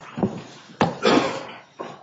v. Minerva Surgical, Inc. v. Minerva Surgical, Inc.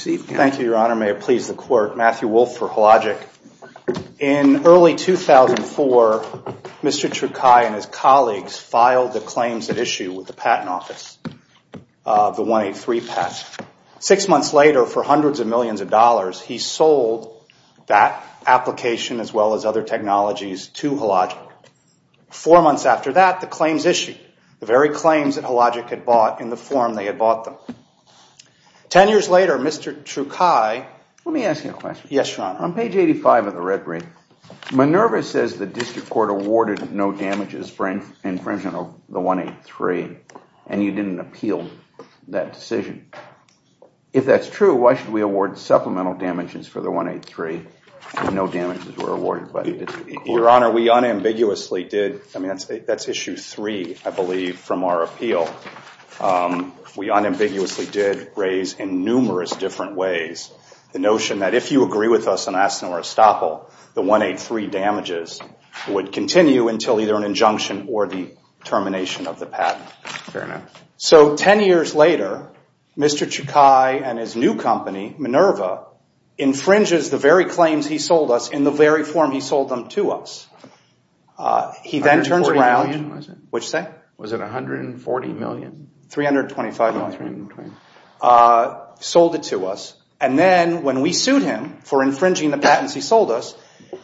Thank you, Your Honor. May it please the Court, Matthew Wolfe for Hologic. In early 2004, Mr. Chukai and his colleagues filed the claims at issue with the Patent Office, the 183 patent. Six months later, for hundreds of millions of dollars, he sold that application as well as other technologies to Hologic. Four months after that, the claims issued, the very claims that Hologic had bought in the form they had bought them. Ten years later, Mr. Chukai... Let me ask you a question. Yes, Your Honor. On page 85 of the red brief, Minerva says the district court awarded no damages infringement of the 183 and you didn't appeal that decision. If that's true, why should we award supplemental damages for the 183 and no damages were awarded by the district court? Your Honor, we unambiguously did. I mean, that's issue three, I believe, from our appeal. We unambiguously did raise in numerous different ways the notion that if you agree with us and ask for a stop, the 183 damages would continue until either an injunction or the termination of the patent. Fair enough. Ten years later, Mr. Chukai and his new company, Minerva, infringes the very claims he sold us in the very form he sold them to us. $140 million, was it? Which thing? Was it $140 million? $325 million. Oh, $325 million. Sold it to us, and then when we sued him for infringing the patents he sold us,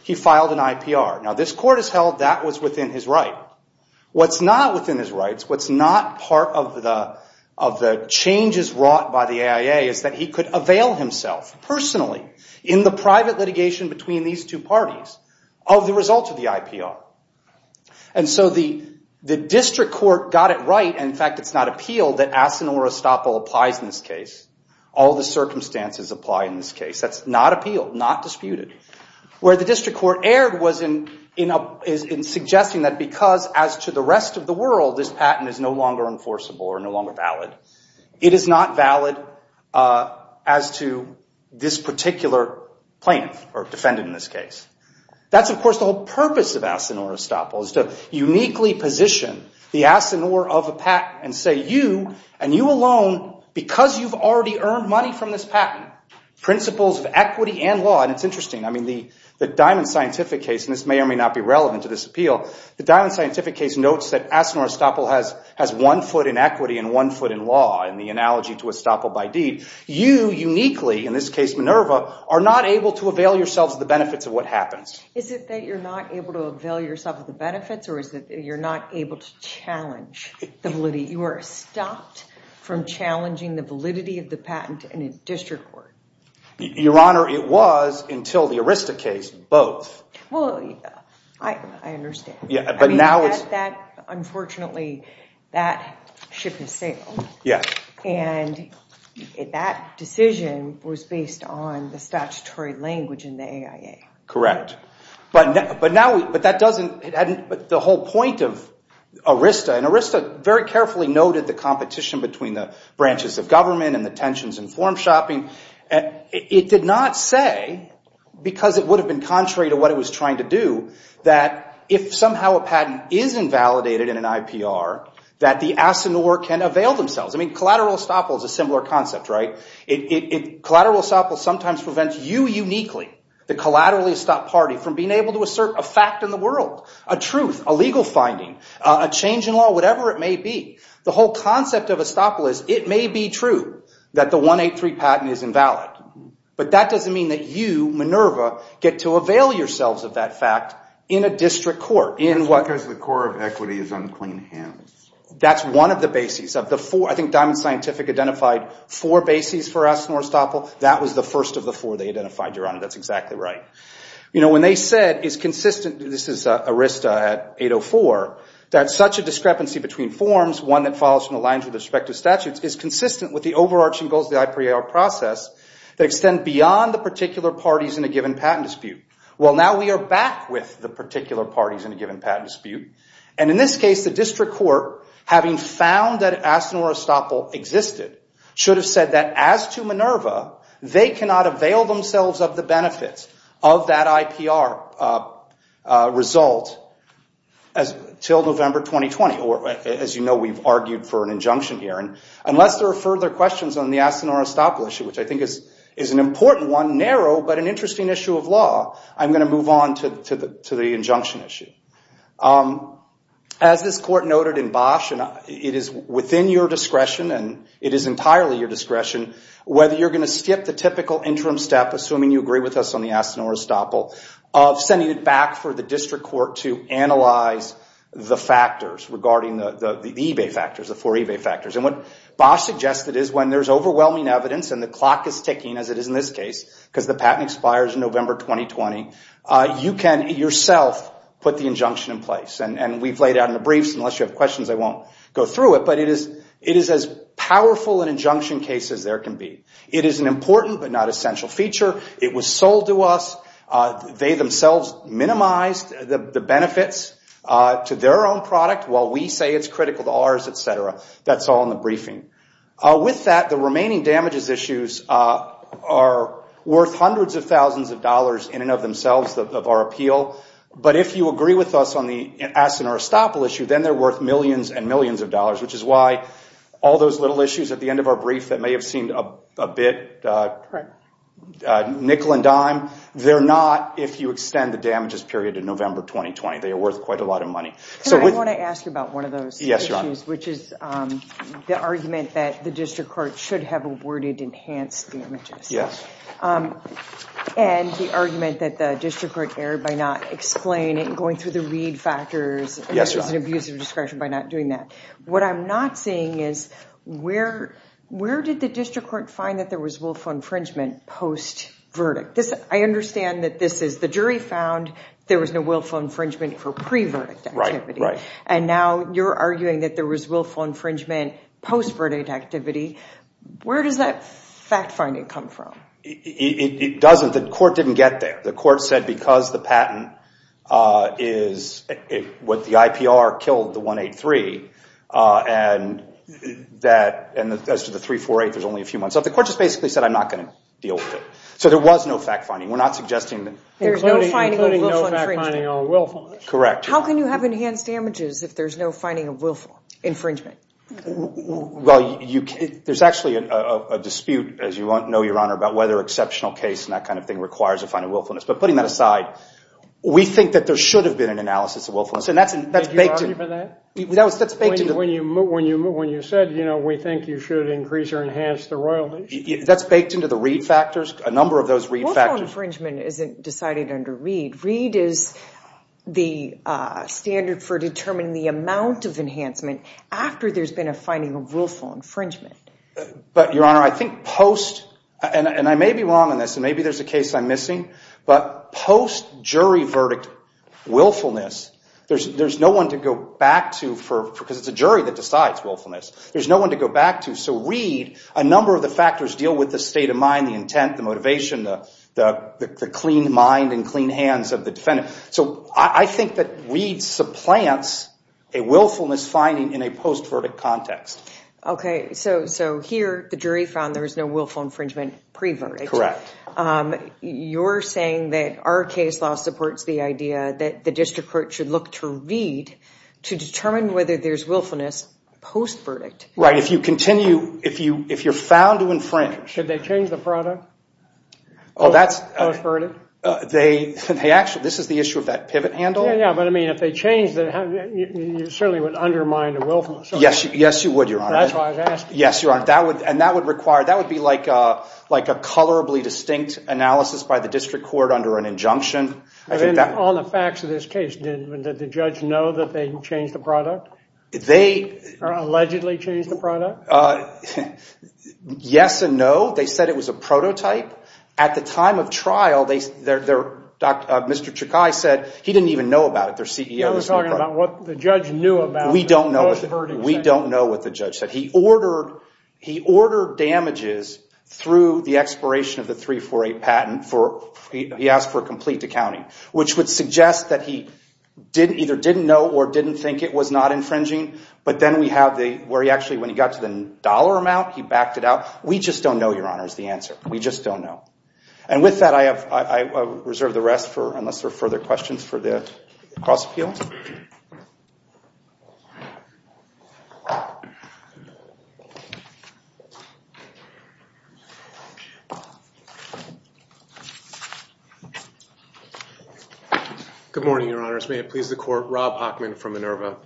he filed an IPR. Now, this court has held that was within his right. What's not within his rights, what's not part of the changes wrought by the AIA is that he could avail himself personally in the private litigation between these two parties of the result of the IPR. And so the district court got it right, and in fact it's not appealed, that Asinor Estoppel applies in this case. All the circumstances apply in this case. That's not appealed, not disputed. Where the district court erred was in suggesting that because as to the rest of the world this patent is no longer enforceable or no longer valid, it is not valid as to this particular plaintiff or defendant in this case. That's of course the whole purpose of Asinor Estoppel is to uniquely position the Asinor of a patent and say you, and you alone, because you've already earned money from this patent, principles of equity and law, and it's interesting. I mean the Diamond Scientific case, and this may or may not be relevant to this appeal, the Diamond Scientific case notes that Asinor Estoppel has one foot in equity and one foot in law in the analogy to Estoppel by deed. You uniquely, in this case Minerva, are not able to avail yourselves of the benefits of what happens. Is it that you're not able to avail yourself of the benefits or is it that you're not able to challenge the validity? You are stopped from challenging the validity of the patent in a district court. Your Honor, it was until the Arista case, both. Well, I understand. But now it's... Unfortunately, that ship has sailed. Yes. And that decision was based on the statutory language in the AIA. Correct. But now we... But that doesn't... The whole point of Arista, and Arista very carefully noted the competition between the branches of government and the tensions in form shopping. It did not say, because it would have been contrary to what it was trying to do, that if somehow a patent is invalidated in an IPR, that the Asinor can avail themselves. I mean, collateral Estoppel is a similar concept, right? Collateral Estoppel sometimes prevents you uniquely, the collateral Estoppel party, from being able to assert a fact in the world, a truth, a legal finding, a change in law, whatever it may be. The whole concept of Estoppel is, it may be true that the 183 patent is invalid. But that doesn't mean that you, Minerva, get to avail yourselves of that fact in a district court. Because the core of equity is on clean hands. That's one of the bases of the four. I think Diamond Scientific identified four bases for Asinor Estoppel. That was the first of the four they identified, Your Honor. That's exactly right. You know, when they said it's consistent, this is Arista at 804, that such a discrepancy between forms, one that follows from the lines of the respective statutes, is consistent with the overarching goals of the IPR process that extend beyond the particular parties in a given patent dispute. Well, now we are back with the particular parties in a given patent dispute. And in this case, the district court, having found that Asinor Estoppel existed, should have said that, as to Minerva, they cannot avail themselves of the benefits of that IPR result until November 2020. Or, as you know, we've argued for an injunction here. And unless there are further questions on the Asinor Estoppel issue, which I think is an important one, narrow, but an interesting issue of law, I'm going to move on to the injunction issue. As this court noted in Bosch, it is within your discretion, and it is entirely your discretion, whether you're going to skip the typical interim step, assuming you agree with us on the Asinor Estoppel, of sending it back for the district court to analyze the factors regarding the eBay factors, the four eBay factors. And what Bosch suggested is, when there's overwhelming evidence, and the clock is ticking, as it is in this case, because the patent expires in November 2020, you can, yourself, put the injunction in place. And we've laid out in the briefs, unless you have questions, I won't go through it. But it is as powerful an injunction case as there can be. It is an important but not essential feature. It was sold to us. They themselves minimized the benefits to their own product, while we say it's critical to ours, et cetera. That's all in the briefing. With that, the remaining damages issues are worth hundreds of thousands of dollars in and of themselves, of our appeal. But if you agree with us on the Asinor Estoppel issue, then they're worth millions and millions of dollars, which is why all those little issues at the end of our brief that may have seemed a bit nickel and dime, they're not, if you extend the damages period to November 2020. They are worth quite a lot of money. I want to ask you about one of those issues, which is the argument that the district court should have awarded enhanced damages. Yes. And the argument that the district court erred by not explaining, going through the read factors, and there was an abuse of discretion by not doing that. What I'm not seeing is where did the district court find that there was willful infringement post-verdict? I understand that this is the jury found there was no willful infringement for pre-verdict activity. Right, right. And now you're arguing that there was willful infringement post-verdict activity. Where does that fact finding come from? It doesn't. The court didn't get there. The court said because the patent is what the IPR killed the 183, and as to the 348, there's only a few months. So the court just basically said, I'm not going to deal with it. So there was no fact finding. We're not suggesting that. Including no fact finding on willfulness. Correct. How can you have enhanced damages if there's no finding of willful infringement? Well, there's actually a dispute, as you know, Your Honor, about whether exceptional case and that kind of thing requires a finding of willfulness. But putting that aside, we think that there should have been an analysis of willfulness. Did you argue for that? When you said, you know, we think you should increase or enhance the royalties. That's baked into the Reed factors, a number of those Reed factors. Willful infringement isn't decided under Reed. Reed is the standard for determining the amount of enhancement after there's been a finding of willful infringement. But, Your Honor, I think post, and I may be wrong on this, and maybe there's a case I'm missing, but post-jury verdict willfulness, there's no one to go back to because it's a jury that decides willfulness. There's no one to go back to. So Reed, a number of the factors deal with the state of mind, the intent, the motivation, the clean mind and clean hands of the defendant. So I think that Reed supplants a willfulness finding in a post-verdict context. Okay. So here the jury found there was no willful infringement pre-verdict. Correct. You're saying that our case law supports the idea that the district court should look to Reed to determine whether there's willfulness post-verdict. Right. If you continue, if you're found to infringe. Should they change the product post-verdict? Actually, this is the issue of that pivot handle. Yeah, yeah. But, I mean, if they changed it, it certainly would undermine the willfulness. Yes, you would, Your Honor. That's why I was asking. Yes, Your Honor. And that would require, that would be like a colorably distinct analysis by the district court under an injunction. On the facts of this case, did the judge know that they changed the product? They. Allegedly changed the product? Yes and no. They said it was a prototype. At the time of trial, Mr. Chakai said he didn't even know about it. They're CEO. You're talking about what the judge knew about it. We don't know. We don't know what the judge said. He ordered damages through the expiration of the 348 patent. He asked for a complete decounting, which would suggest that he either didn't know or didn't think it was not infringing. But then we have where he actually, when he got to the dollar amount, he backed it out. We just don't know, Your Honor, is the answer. We just don't know. And with that, I reserve the rest for unless there are further questions for the cross appeal. Good morning, Your Honors. May it please the court. Rob Hockman from Minerva.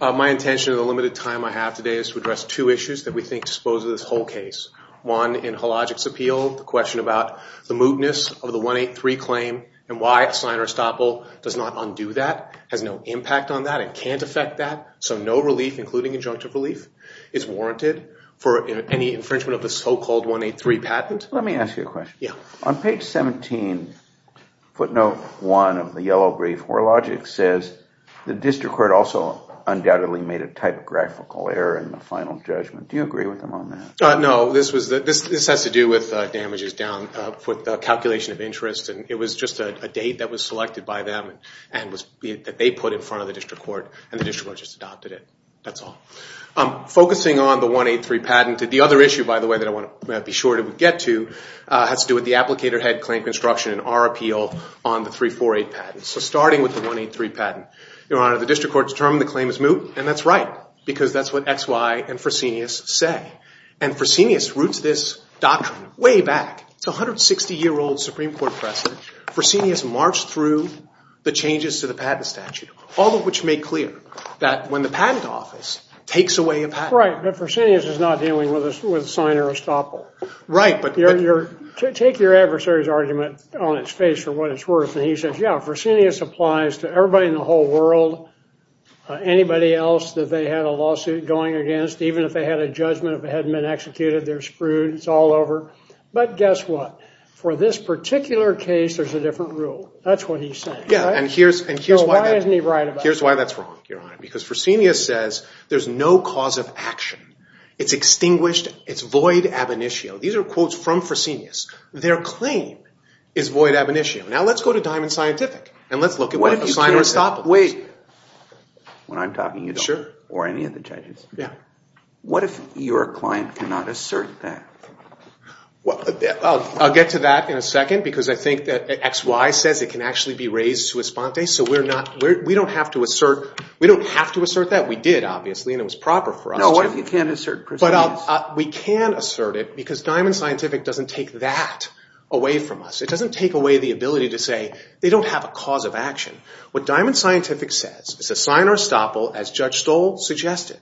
My intention in the limited time I have today is to address two issues that we think dispose of this whole case. One, in Halogic's appeal, the question about the mootness of the 183 claim and why a sign or estoppel does not undo that, has no impact on that, and can't affect that. So no relief, including injunctive relief, is warranted for any infringement of the so-called 183 patent. Let me ask you a question. Yeah. On page 17, footnote 1 of the yellow brief, Halogic says the district court also undoubtedly made a typographical error in the final judgment. Do you agree with him on that? No. This has to do with damages down, with the calculation of interest. And it was just a date that was selected by them and that they put in front of the district court. And the district court just adopted it. That's all. Focusing on the 183 patent, the other issue, by the way, that I want to be sure to get to, has to do with the applicator-head claim construction in our appeal on the 348 patent. So starting with the 183 patent, Your Honor, the district court determined the claim is moot. And that's right. Because that's what X, Y, and Fresenius say. And Fresenius roots this doctrine way back. It's a 160-year-old Supreme Court precedent. Fresenius marched through the changes to the patent statute, all of which make clear that when the patent office takes away a patent. Right. But Fresenius is not dealing with signer estoppel. Right. Take your adversary's argument on its face for what it's worth. And he says, yeah, Fresenius applies to everybody in the whole world, anybody else that they had a lawsuit going against. Even if they had a judgment, if it hadn't been executed, they're screwed. It's all over. But guess what? For this particular case, there's a different rule. That's what he's saying. Yeah. And here's why that's wrong, Your Honor. Because Fresenius says there's no cause of action. It's extinguished. It's void ab initio. These are quotes from Fresenius. Their claim is void ab initio. Now let's go to Diamond Scientific and let's look at what a signer estoppel is. Wait. When I'm talking, you don't. Sure. Or any of the judges. Yeah. What if your client cannot assert that? Well, I'll get to that in a second because I think that XY says it can actually be raised sua sponte. So we don't have to assert that. We did, obviously, and it was proper for us to. No, what if you can't assert Fresenius? But we can assert it because Diamond Scientific doesn't take that away from us. It doesn't take away the ability to say they don't have a cause of action. What Diamond Scientific says is a signer estoppel, as Judge Stoll suggested,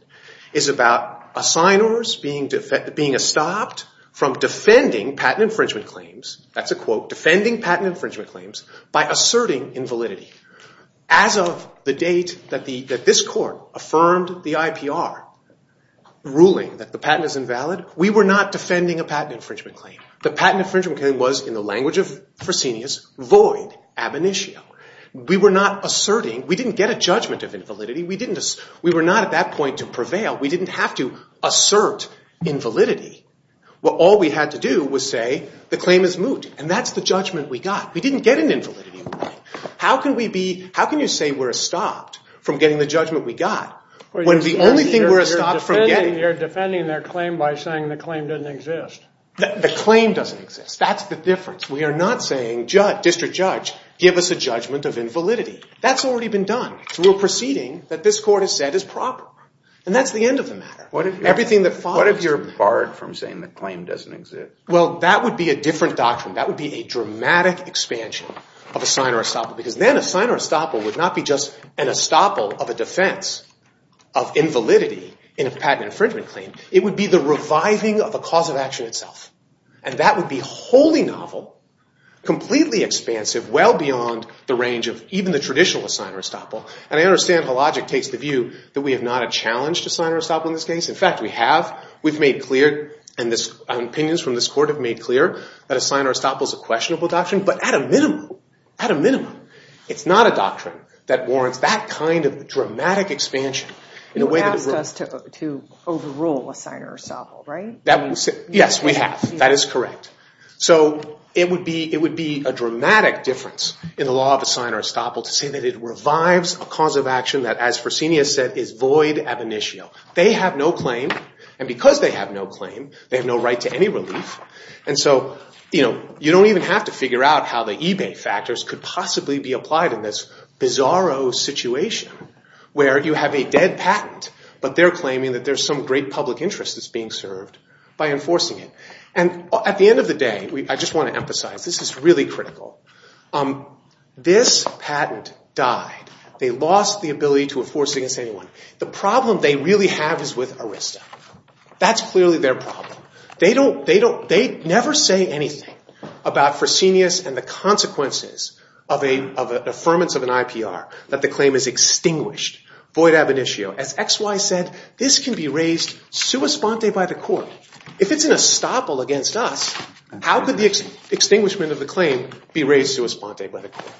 is about signers being estopped from defending patent infringement claims. That's a quote. Defending patent infringement claims by asserting invalidity. As of the date that this court affirmed the IPR ruling that the patent is invalid, we were not defending a patent infringement claim. The patent infringement claim was, in the language of Fresenius, void, ab initio. We were not asserting. We didn't get a judgment of invalidity. We were not at that point to prevail. We didn't have to assert invalidity. All we had to do was say the claim is moot, and that's the judgment we got. We didn't get an invalidity ruling. How can you say we're estopped from getting the judgment we got when the only thing we're estopped from getting. You're defending their claim by saying the claim doesn't exist. The claim doesn't exist. That's the difference. We are not saying, district judge, give us a judgment of invalidity. That's already been done through a proceeding that this court has said is proper, and that's the end of the matter. What if you're barred from saying the claim doesn't exist? Well, that would be a different doctrine. That would be a dramatic expansion of a signer estoppel, because then a signer estoppel would not be just an estoppel of a defense of invalidity in a patent infringement claim. It would be the reviving of a cause of action itself, and that would be wholly novel, completely expansive, well beyond the range of even the traditional signer estoppel. And I understand how logic takes the view that we have not a challenge to signer estoppel in this case. In fact, we have. We've made clear, and opinions from this court have made clear, that a signer estoppel is a questionable doctrine, but at a minimum, at a minimum, it's not a doctrine that warrants that kind of dramatic expansion. You asked us to overrule a signer estoppel, right? Yes, we have. That is correct. So it would be a dramatic difference in the law of a signer estoppel to say that it revives a cause of action that, as Fresenius said, is void ab initio. They have no claim, and because they have no claim, they have no right to any relief, and so you don't even have to figure out how the eBay factors could possibly be applied in this bizarro situation where you have a dead patent, but they're claiming that there's some great public interest that's being served by enforcing it. And at the end of the day, I just want to emphasize, this is really critical, this patent died. They lost the ability to enforce it against anyone. The problem they really have is with Arista. That's clearly their problem. They never say anything about Fresenius and the consequences of an affirmance of an IPR that the claim is extinguished, void ab initio. As XY said, this can be raised sua sponte by the court. If it's an estoppel against us, how could the extinguishment of the claim be raised sua sponte by the court?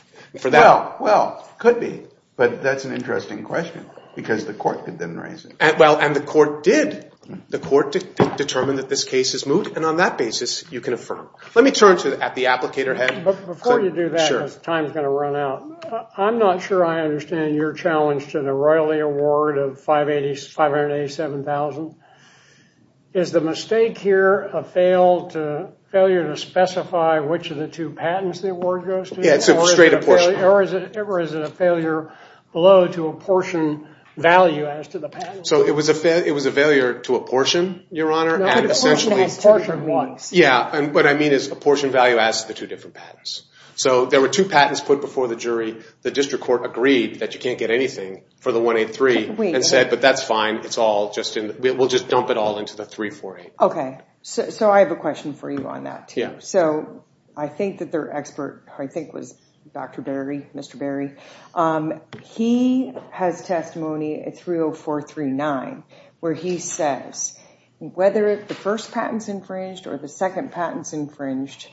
Well, it could be, but that's an interesting question because the court didn't raise it. Well, and the court did. The court determined that this case is moved, and on that basis, you can affirm. Let me turn to the applicator head. Before you do that, because time is going to run out, I'm not sure I understand your challenge to the royally award of $587,000. Is the mistake here a failure to specify which of the two patents the award goes to? Or is it a failure below to apportion value as to the patents? It was a failure to apportion, Your Honor. Apportion as to the ones. Yeah, and what I mean is apportion value as to the two different patents. There were two patents put before the jury. The district court agreed that you can't get anything for the 183 and said, but that's fine. We'll just dump it all into the 348. Okay, so I have a question for you on that, too. So I think that their expert, I think, was Dr. Berry, Mr. Berry. He has testimony at 30439 where he says whether the first patent's infringed or the second patent's infringed,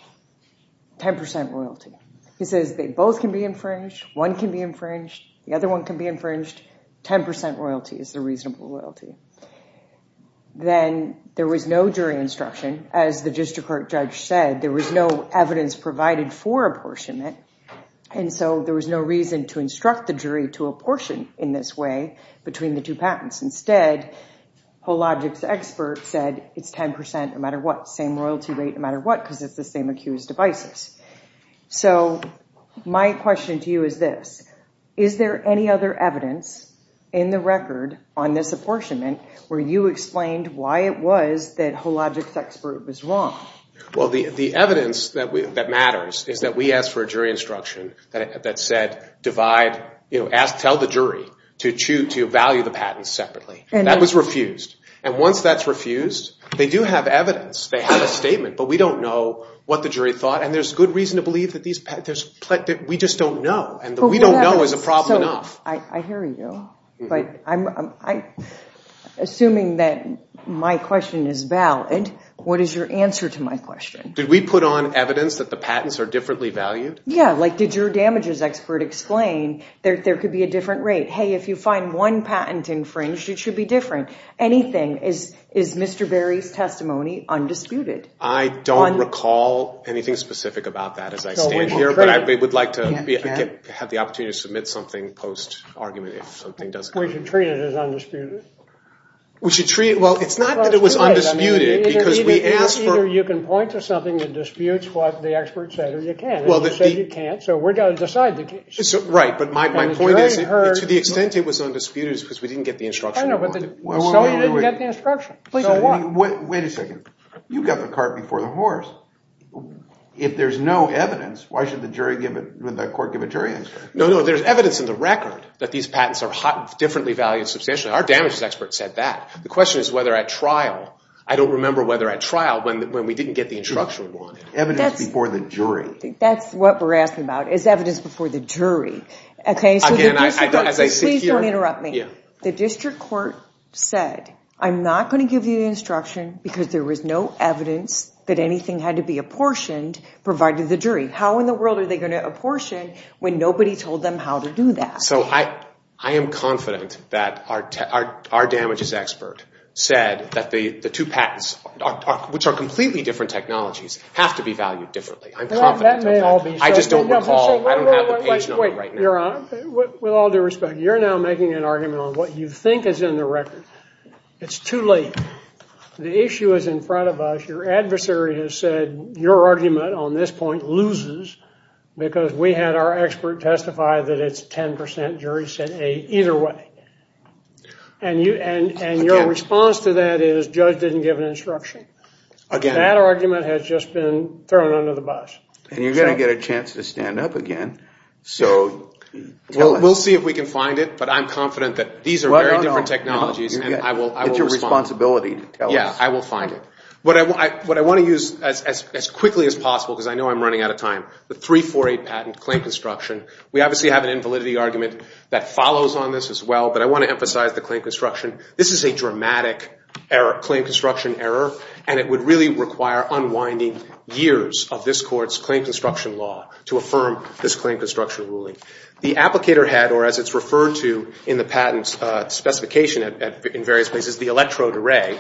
10% royalty. He says they both can be infringed. One can be infringed. The other one can be infringed. 10% royalty is the reasonable royalty. Then there was no jury instruction. As the district court judge said, there was no evidence provided for apportionment. And so there was no reason to instruct the jury to apportion in this way between the two patents. Instead, HoLogic's expert said it's 10% no matter what, same royalty rate no matter what because it's the same accused devices. So my question to you is this. Is there any other evidence in the record on this apportionment where you explained why it was that HoLogic's expert was wrong? Well, the evidence that matters is that we asked for a jury instruction that said divide, tell the jury to value the patents separately. That was refused. And once that's refused, they do have evidence. They have a statement. But we don't know what the jury thought. And there's good reason to believe that we just don't know. And the we don't know is a problem enough. I hear you. But assuming that my question is valid, what is your answer to my question? Did we put on evidence that the patents are differently valued? Yeah, like did your damages expert explain there could be a different rate? Hey, if you find one patent infringed, it should be different. Is Mr. Berry's testimony undisputed? I don't recall anything specific about that as I stand here. But I would like to have the opportunity to submit something post-argument if something doesn't come up. We should treat it as undisputed. Well, it's not that it was undisputed. Either you can point to something that disputes what the expert said or you can't. And you said you can't, so we've got to decide the case. Right, but my point is to the extent it was undisputed is because we didn't get the instruction we wanted. So you didn't get the instruction. So what? Wait a second. You got the cart before the horse. If there's no evidence, why should the court give a jury answer? No, no, there's evidence in the record that these patents are differently valued substantially. Our damages expert said that. The question is whether at trial, I don't remember whether at trial when we didn't get the instruction we wanted. Evidence before the jury. That's what we're asking about is evidence before the jury. Please don't interrupt me. The district court said, I'm not going to give you the instruction because there was no evidence that anything had to be apportioned provided to the jury. How in the world are they going to apportion when nobody told them how to do that? So I am confident that our damages expert said that the two patents, which are completely different technologies, have to be valued differently. I'm confident. I just don't recall. I don't have the page number right now. With all due respect, you're now making an argument on what you think is in the record. It's too late. The issue is in front of us. Your adversary has said your argument on this point loses because we had our expert testify that it's 10% jury sent A either way. And your response to that is judge didn't give an instruction. That argument has just been thrown under the bus. You're going to get a chance to stand up again. We'll see if we can find it, but I'm confident that these are very different technologies. It's your responsibility to tell us. I will find it. What I want to use as quickly as possible, because I know I'm running out of time, the 348 patent claim construction. We obviously have an invalidity argument that follows on this as well, but I want to emphasize the claim construction. This is a dramatic claim construction error, and it would really require unwinding years of this court's claim construction law to affirm this claim construction ruling. The applicator had, or as it's referred to in the patent specification in various places, the electrode array,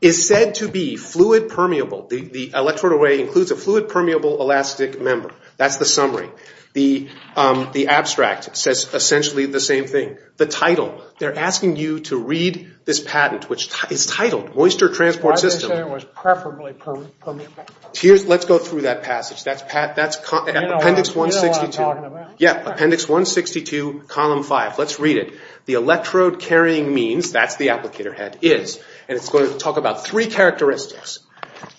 is said to be fluid permeable. The electrode array includes a fluid permeable elastic member. That's the summary. The abstract says essentially the same thing. The title. They're asking you to read this patent, which is titled Moisture Transport System. Why did they say it was preferably permeable? Let's go through that passage. That's appendix 162. You know what I'm talking about. Yeah, appendix 162, column 5. Let's read it. The electrode carrying means, that's the applicator had, is, and it's going to talk about three characteristics.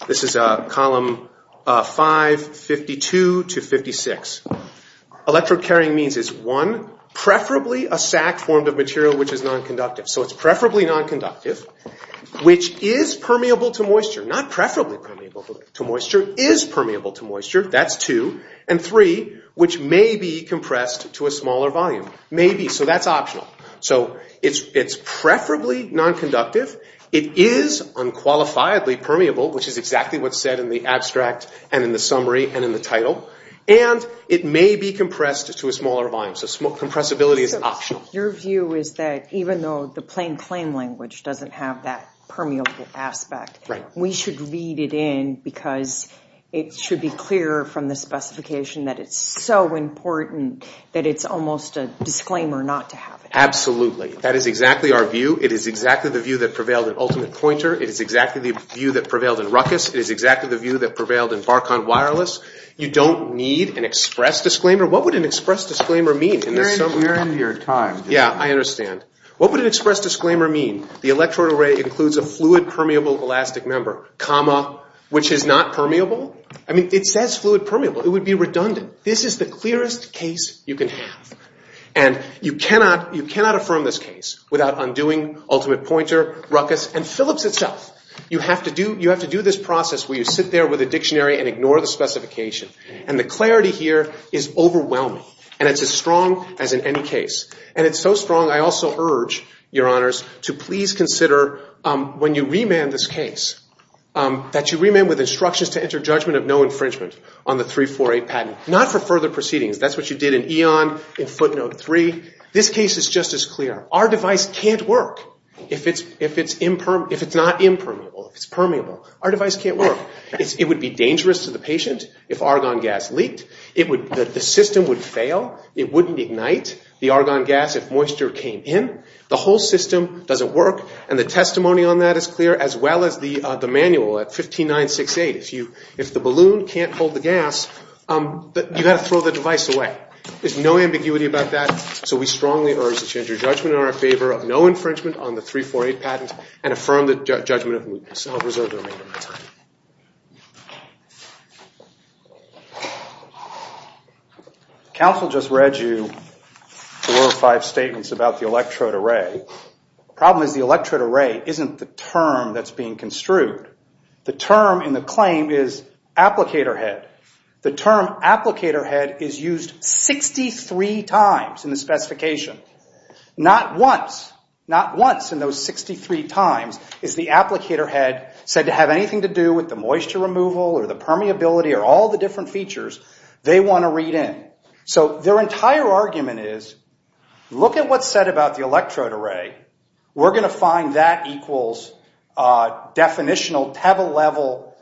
This is column 5, 52 to 56. Electrode carrying means is, one, preferably a sack formed of material which is nonconductive. So it's preferably nonconductive, which is permeable to moisture. Not preferably permeable to moisture. Is permeable to moisture. That's two. And three, which may be compressed to a smaller volume. Maybe. So that's optional. So it's preferably nonconductive. It is unqualifiedly permeable, which is exactly what's said in the abstract and in the summary and in the title. And it may be compressed to a smaller volume. So compressibility is optional. Your view is that even though the plain claim language doesn't have that permeable aspect, we should read it in because it should be clear from the specification that it's so important that it's almost a disclaimer not to have it. Absolutely. That is exactly our view. It is exactly the view that prevailed in Ultimate Pointer. It is exactly the view that prevailed in Ruckus. It is exactly the view that prevailed in Barkon Wireless. You don't need an express disclaimer. What would an express disclaimer mean? We're into your time. Yeah, I understand. What would an express disclaimer mean? The electrode array includes a fluid permeable elastic member, comma, which is not permeable. I mean, it says fluid permeable. It would be redundant. This is the clearest case you can have. And you cannot affirm this case without undoing Ultimate Pointer, Ruckus, and Phillips itself. You have to do this process where you sit there with a dictionary and ignore the specification. And the clarity here is overwhelming. And it's as strong as in any case. And it's so strong, I also urge, Your Honors, to please consider when you remand this case, that you remand with instructions to enter judgment of no infringement on the 348 patent, not for further proceedings. That's what you did in Eon, in Footnote 3. This case is just as clear. Our device can't work if it's not impermissible. If it's permeable. Our device can't work. It would be dangerous to the patient if argon gas leaked. The system would fail. It wouldn't ignite the argon gas if moisture came in. The whole system doesn't work. And the testimony on that is clear, as well as the manual at 15968. If the balloon can't hold the gas, you've got to throw the device away. There's no ambiguity about that. So we strongly urge that you enter judgment in our favor of no infringement on the 348 patent and affirm the judgment of mootness. And I'll reserve the remainder of my time. Counsel just read you four or five statements about the electrode array. The problem is the electrode array isn't the term that's being construed. The term in the claim is applicator head. The term applicator head is used 63 times in the specification. Not once in those 63 times is the applicator head said to have anything to do with the moisture removal or the permeability or all the different features they want to read in. So their entire argument is look at what's said about the electrode array. We're going to find that equals definitional level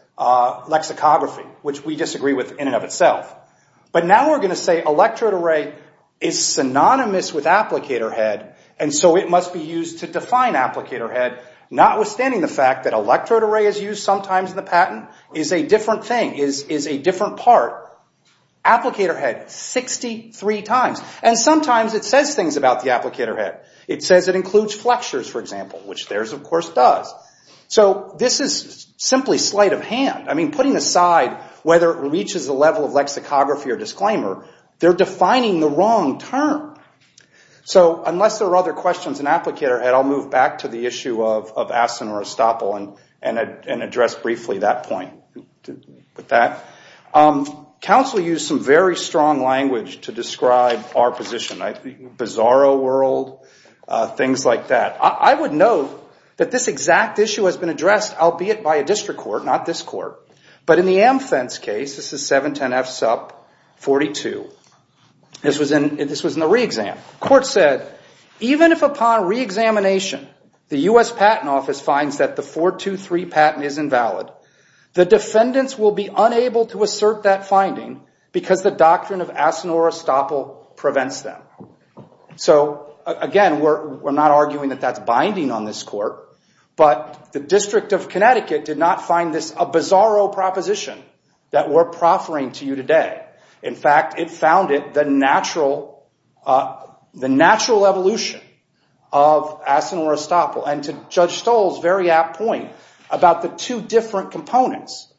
lexicography, which we disagree with in and of itself. But now we're going to say electrode array is synonymous with applicator head and so it must be used to define applicator head, notwithstanding the fact that electrode array is used sometimes in the patent is a different thing, is a different part. Applicator head, 63 times. And sometimes it says things about the applicator head. It says it includes flexures, for example, which theirs, of course, does. So this is simply sleight of hand. I mean, putting aside whether it reaches the level of lexicography or disclaimer, they're defining the wrong term. So unless there are other questions in applicator head, I'll move back to the issue of Aston or Estoppel and address briefly that point with that. Counsel use some very strong language to describe our position. Bizarro world, things like that. I would note that this exact issue has been addressed, albeit by a district court, not this court, but in the AmFens case, this is 710F sub 42. This was in the reexam. The court said, even if upon reexamination the U.S. Patent Office finds that the 423 patent is invalid, the defendants will be unable to assert that finding because the doctrine of Aston or Estoppel prevents them. So again, we're not arguing that that's binding on this court, but the District of Connecticut did not find this a bizarro proposition that we're proffering to you today. In fact, it founded the natural evolution of Aston or Estoppel. And to Judge Stoll's very apt point about the two different components,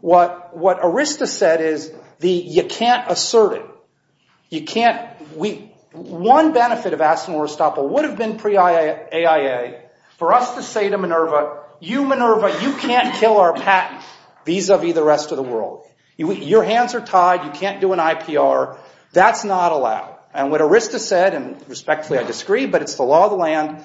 what Arista said is you can't assert it. One benefit of Aston or Estoppel would have been pre-AIA for us to say to Minerva, you Minerva, you can't kill our patent vis-a-vis the rest of the world. Your hands are tied. You can't do an IPR. That's not allowed. And what Arista said, and respectfully I disagree, but it's the law of the land,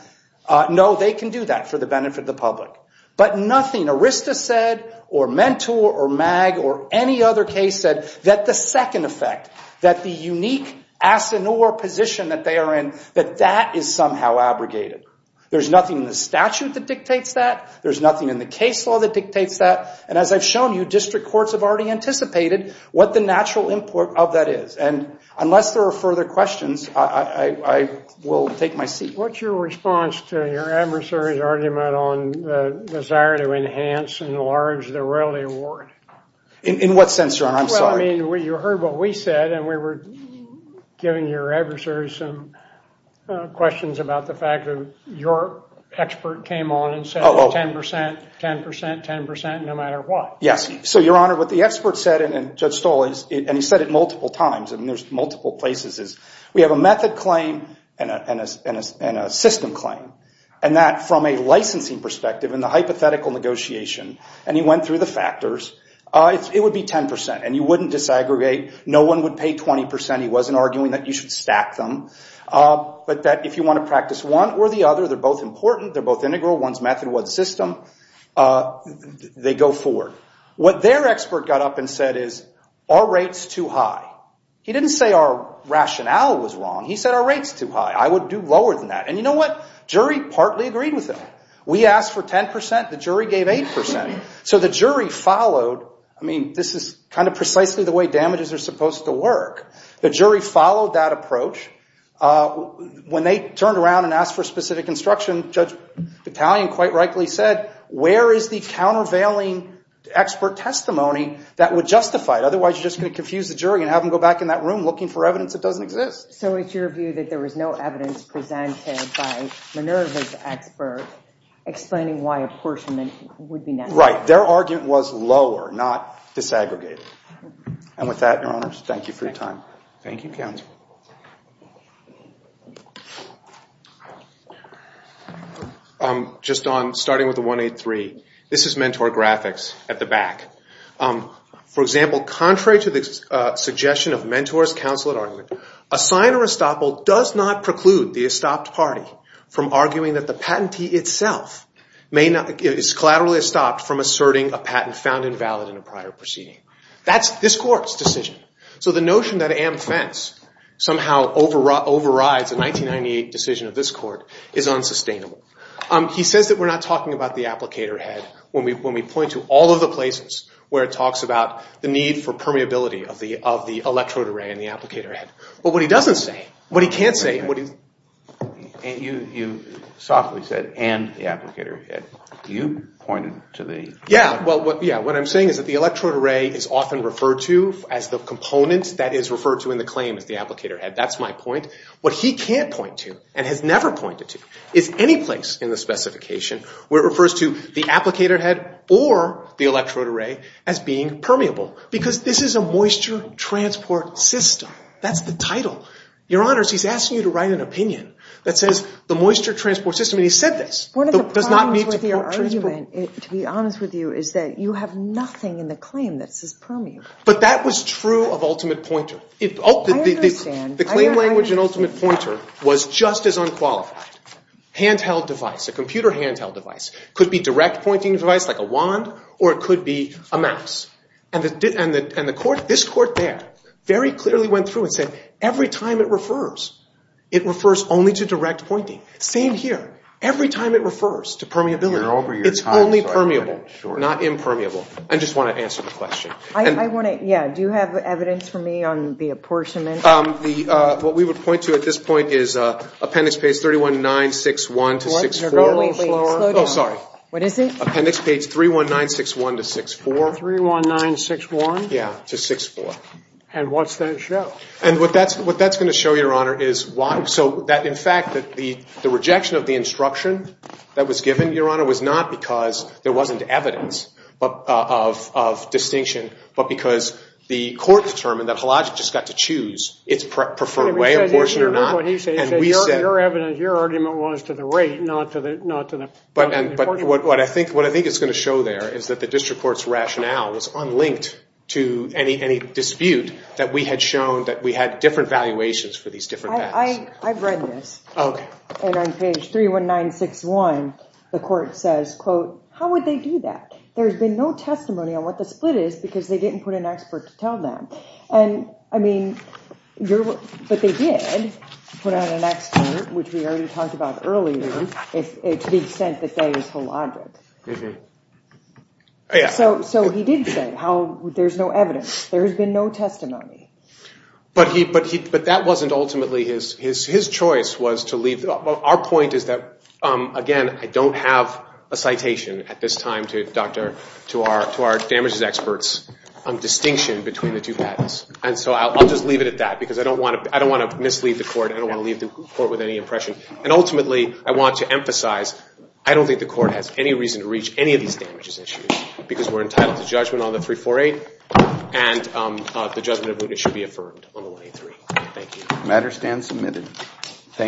no, they can do that for the benefit of the public. But nothing Arista said or Mentor or Mag or any other case said that the second effect, that the unique Aston or position that they are in, that that is somehow abrogated. There's nothing in the statute that dictates that. There's nothing in the case law that dictates that. And as I've shown you, district courts have already anticipated what the natural import of that is. And unless there are further questions, I will take my seat. What's your response to your adversary's argument on the desire to enhance and enlarge the royalty award? In what sense, Your Honor? I'm sorry. Well, I mean, you heard what we said, and we were giving your adversary some questions about the fact that your expert came on and said 10 percent, 10 percent, 10 percent, no matter what. Yes. So, Your Honor, what the expert said, and Judge Stoll, and he said it multiple times, and there's multiple places, is we have a method claim and a system claim. And that, from a licensing perspective, in the hypothetical negotiation, and he went through the factors, it would be 10 percent. And you wouldn't disaggregate. No one would pay 20 percent. He wasn't arguing that you should stack them. But that if you want to practice one or the other, they're both important, they're both integral, one's method, one's system, they go forward. What their expert got up and said is, our rate's too high. He didn't say our rationale was wrong. He said our rate's too high. I would do lower than that. And you know what? Jury partly agreed with him. We asked for 10 percent, the jury gave 8 percent. So the jury followed, I mean, this is kind of precisely the way damages are supposed to work. The jury followed that approach. When they turned around and asked for specific instruction, Judge Battalion quite rightly said, where is the countervailing expert testimony that would justify it? Otherwise, you're just going to confuse the jury and have them go back in that room looking for evidence that doesn't exist. So it's your view that there was no evidence presented by Minerva's expert explaining why apportionment would be necessary? Right. Their argument was lower, not disaggregated. And with that, Your Honors, thank you for your time. Thank you, counsel. Just on starting with the 183, this is Mentor graphics at the back. For example, contrary to the suggestion of Mentor's counsel at argument, a sign or estoppel does not preclude the estopped party from arguing that the patentee itself is collaterally estopped from asserting a patent found invalid in a prior proceeding. That's this Court's decision. So the notion that Am Fence somehow overrides a 1998 decision of this Court is unsustainable. He says that we're not talking about the applicator head when we point to all of the places where it talks about the need for permeability of the electrode array and the applicator head. But what he doesn't say, what he can't say, what he's... You softly said, and the applicator head. You pointed to the... Yeah, well, what I'm saying is that the electrode array is often referred to as the component that is referred to in the claim as the applicator head. That's my point. What he can't point to and has never pointed to is any place in the specification where it refers to the applicator head or the electrode array as being permeable because this is a moisture transport system. That's the title. Your Honors, he's asking you to write an opinion that says the moisture transport system. And he said this. One of the problems with your argument, to be honest with you, is that you have nothing in the claim that says permeable. But that was true of ultimate pointer. I understand. The claim language in ultimate pointer was just as unqualified. Handheld device, a computer handheld device, could be direct pointing device like a wand or it could be a mouse. And this Court there very clearly went through and said every time it refers, it refers only to direct pointing. Same here. Every time it refers to permeability. It's only permeable, not impermeable. I just want to answer the question. I want to, yeah. Do you have evidence for me on the apportionment? What we would point to at this point is appendix page 31961 to 64. What? Slow down. Oh, sorry. What is it? Appendix page 31961 to 64. 31961? Yeah, to 64. And what's that show? And what that's going to show, Your Honor, is why. So that, in fact, the rejection of the instruction that was given, Your Honor, was not because there wasn't evidence of distinction, but because the Court determined that Hologic just got to choose its preferred way, apportionment or not. And we said. Your argument was to the rate, not to the apportionment. But what I think it's going to show there is that the district court's rationale was unlinked to any dispute that we had shown that we had different valuations for these different facts. I've read this. Oh, OK. And on page 31961, the Court says, quote, how would they do that? There has been no testimony on what the split is because they didn't put an expert to tell them. And, I mean, but they did put out an expert, which we already talked about earlier, to the extent that that is Hologic. Mm-hmm. Yeah. So he did say how there's no evidence. There has been no testimony. But that wasn't ultimately his choice was to leave. Our point is that, again, I don't have a citation at this time to our damages experts on distinction between the two patents. And so I'll just leave it at that because I don't want to mislead the Court. I don't want to leave the Court with any impression. And ultimately, I want to emphasize I don't think the Court has any reason to reach any of these damages issues because we're entitled to judgment on the 348 and the judgment of which should be affirmed on the 183. Thank you. The matter stands submitted. Thank you.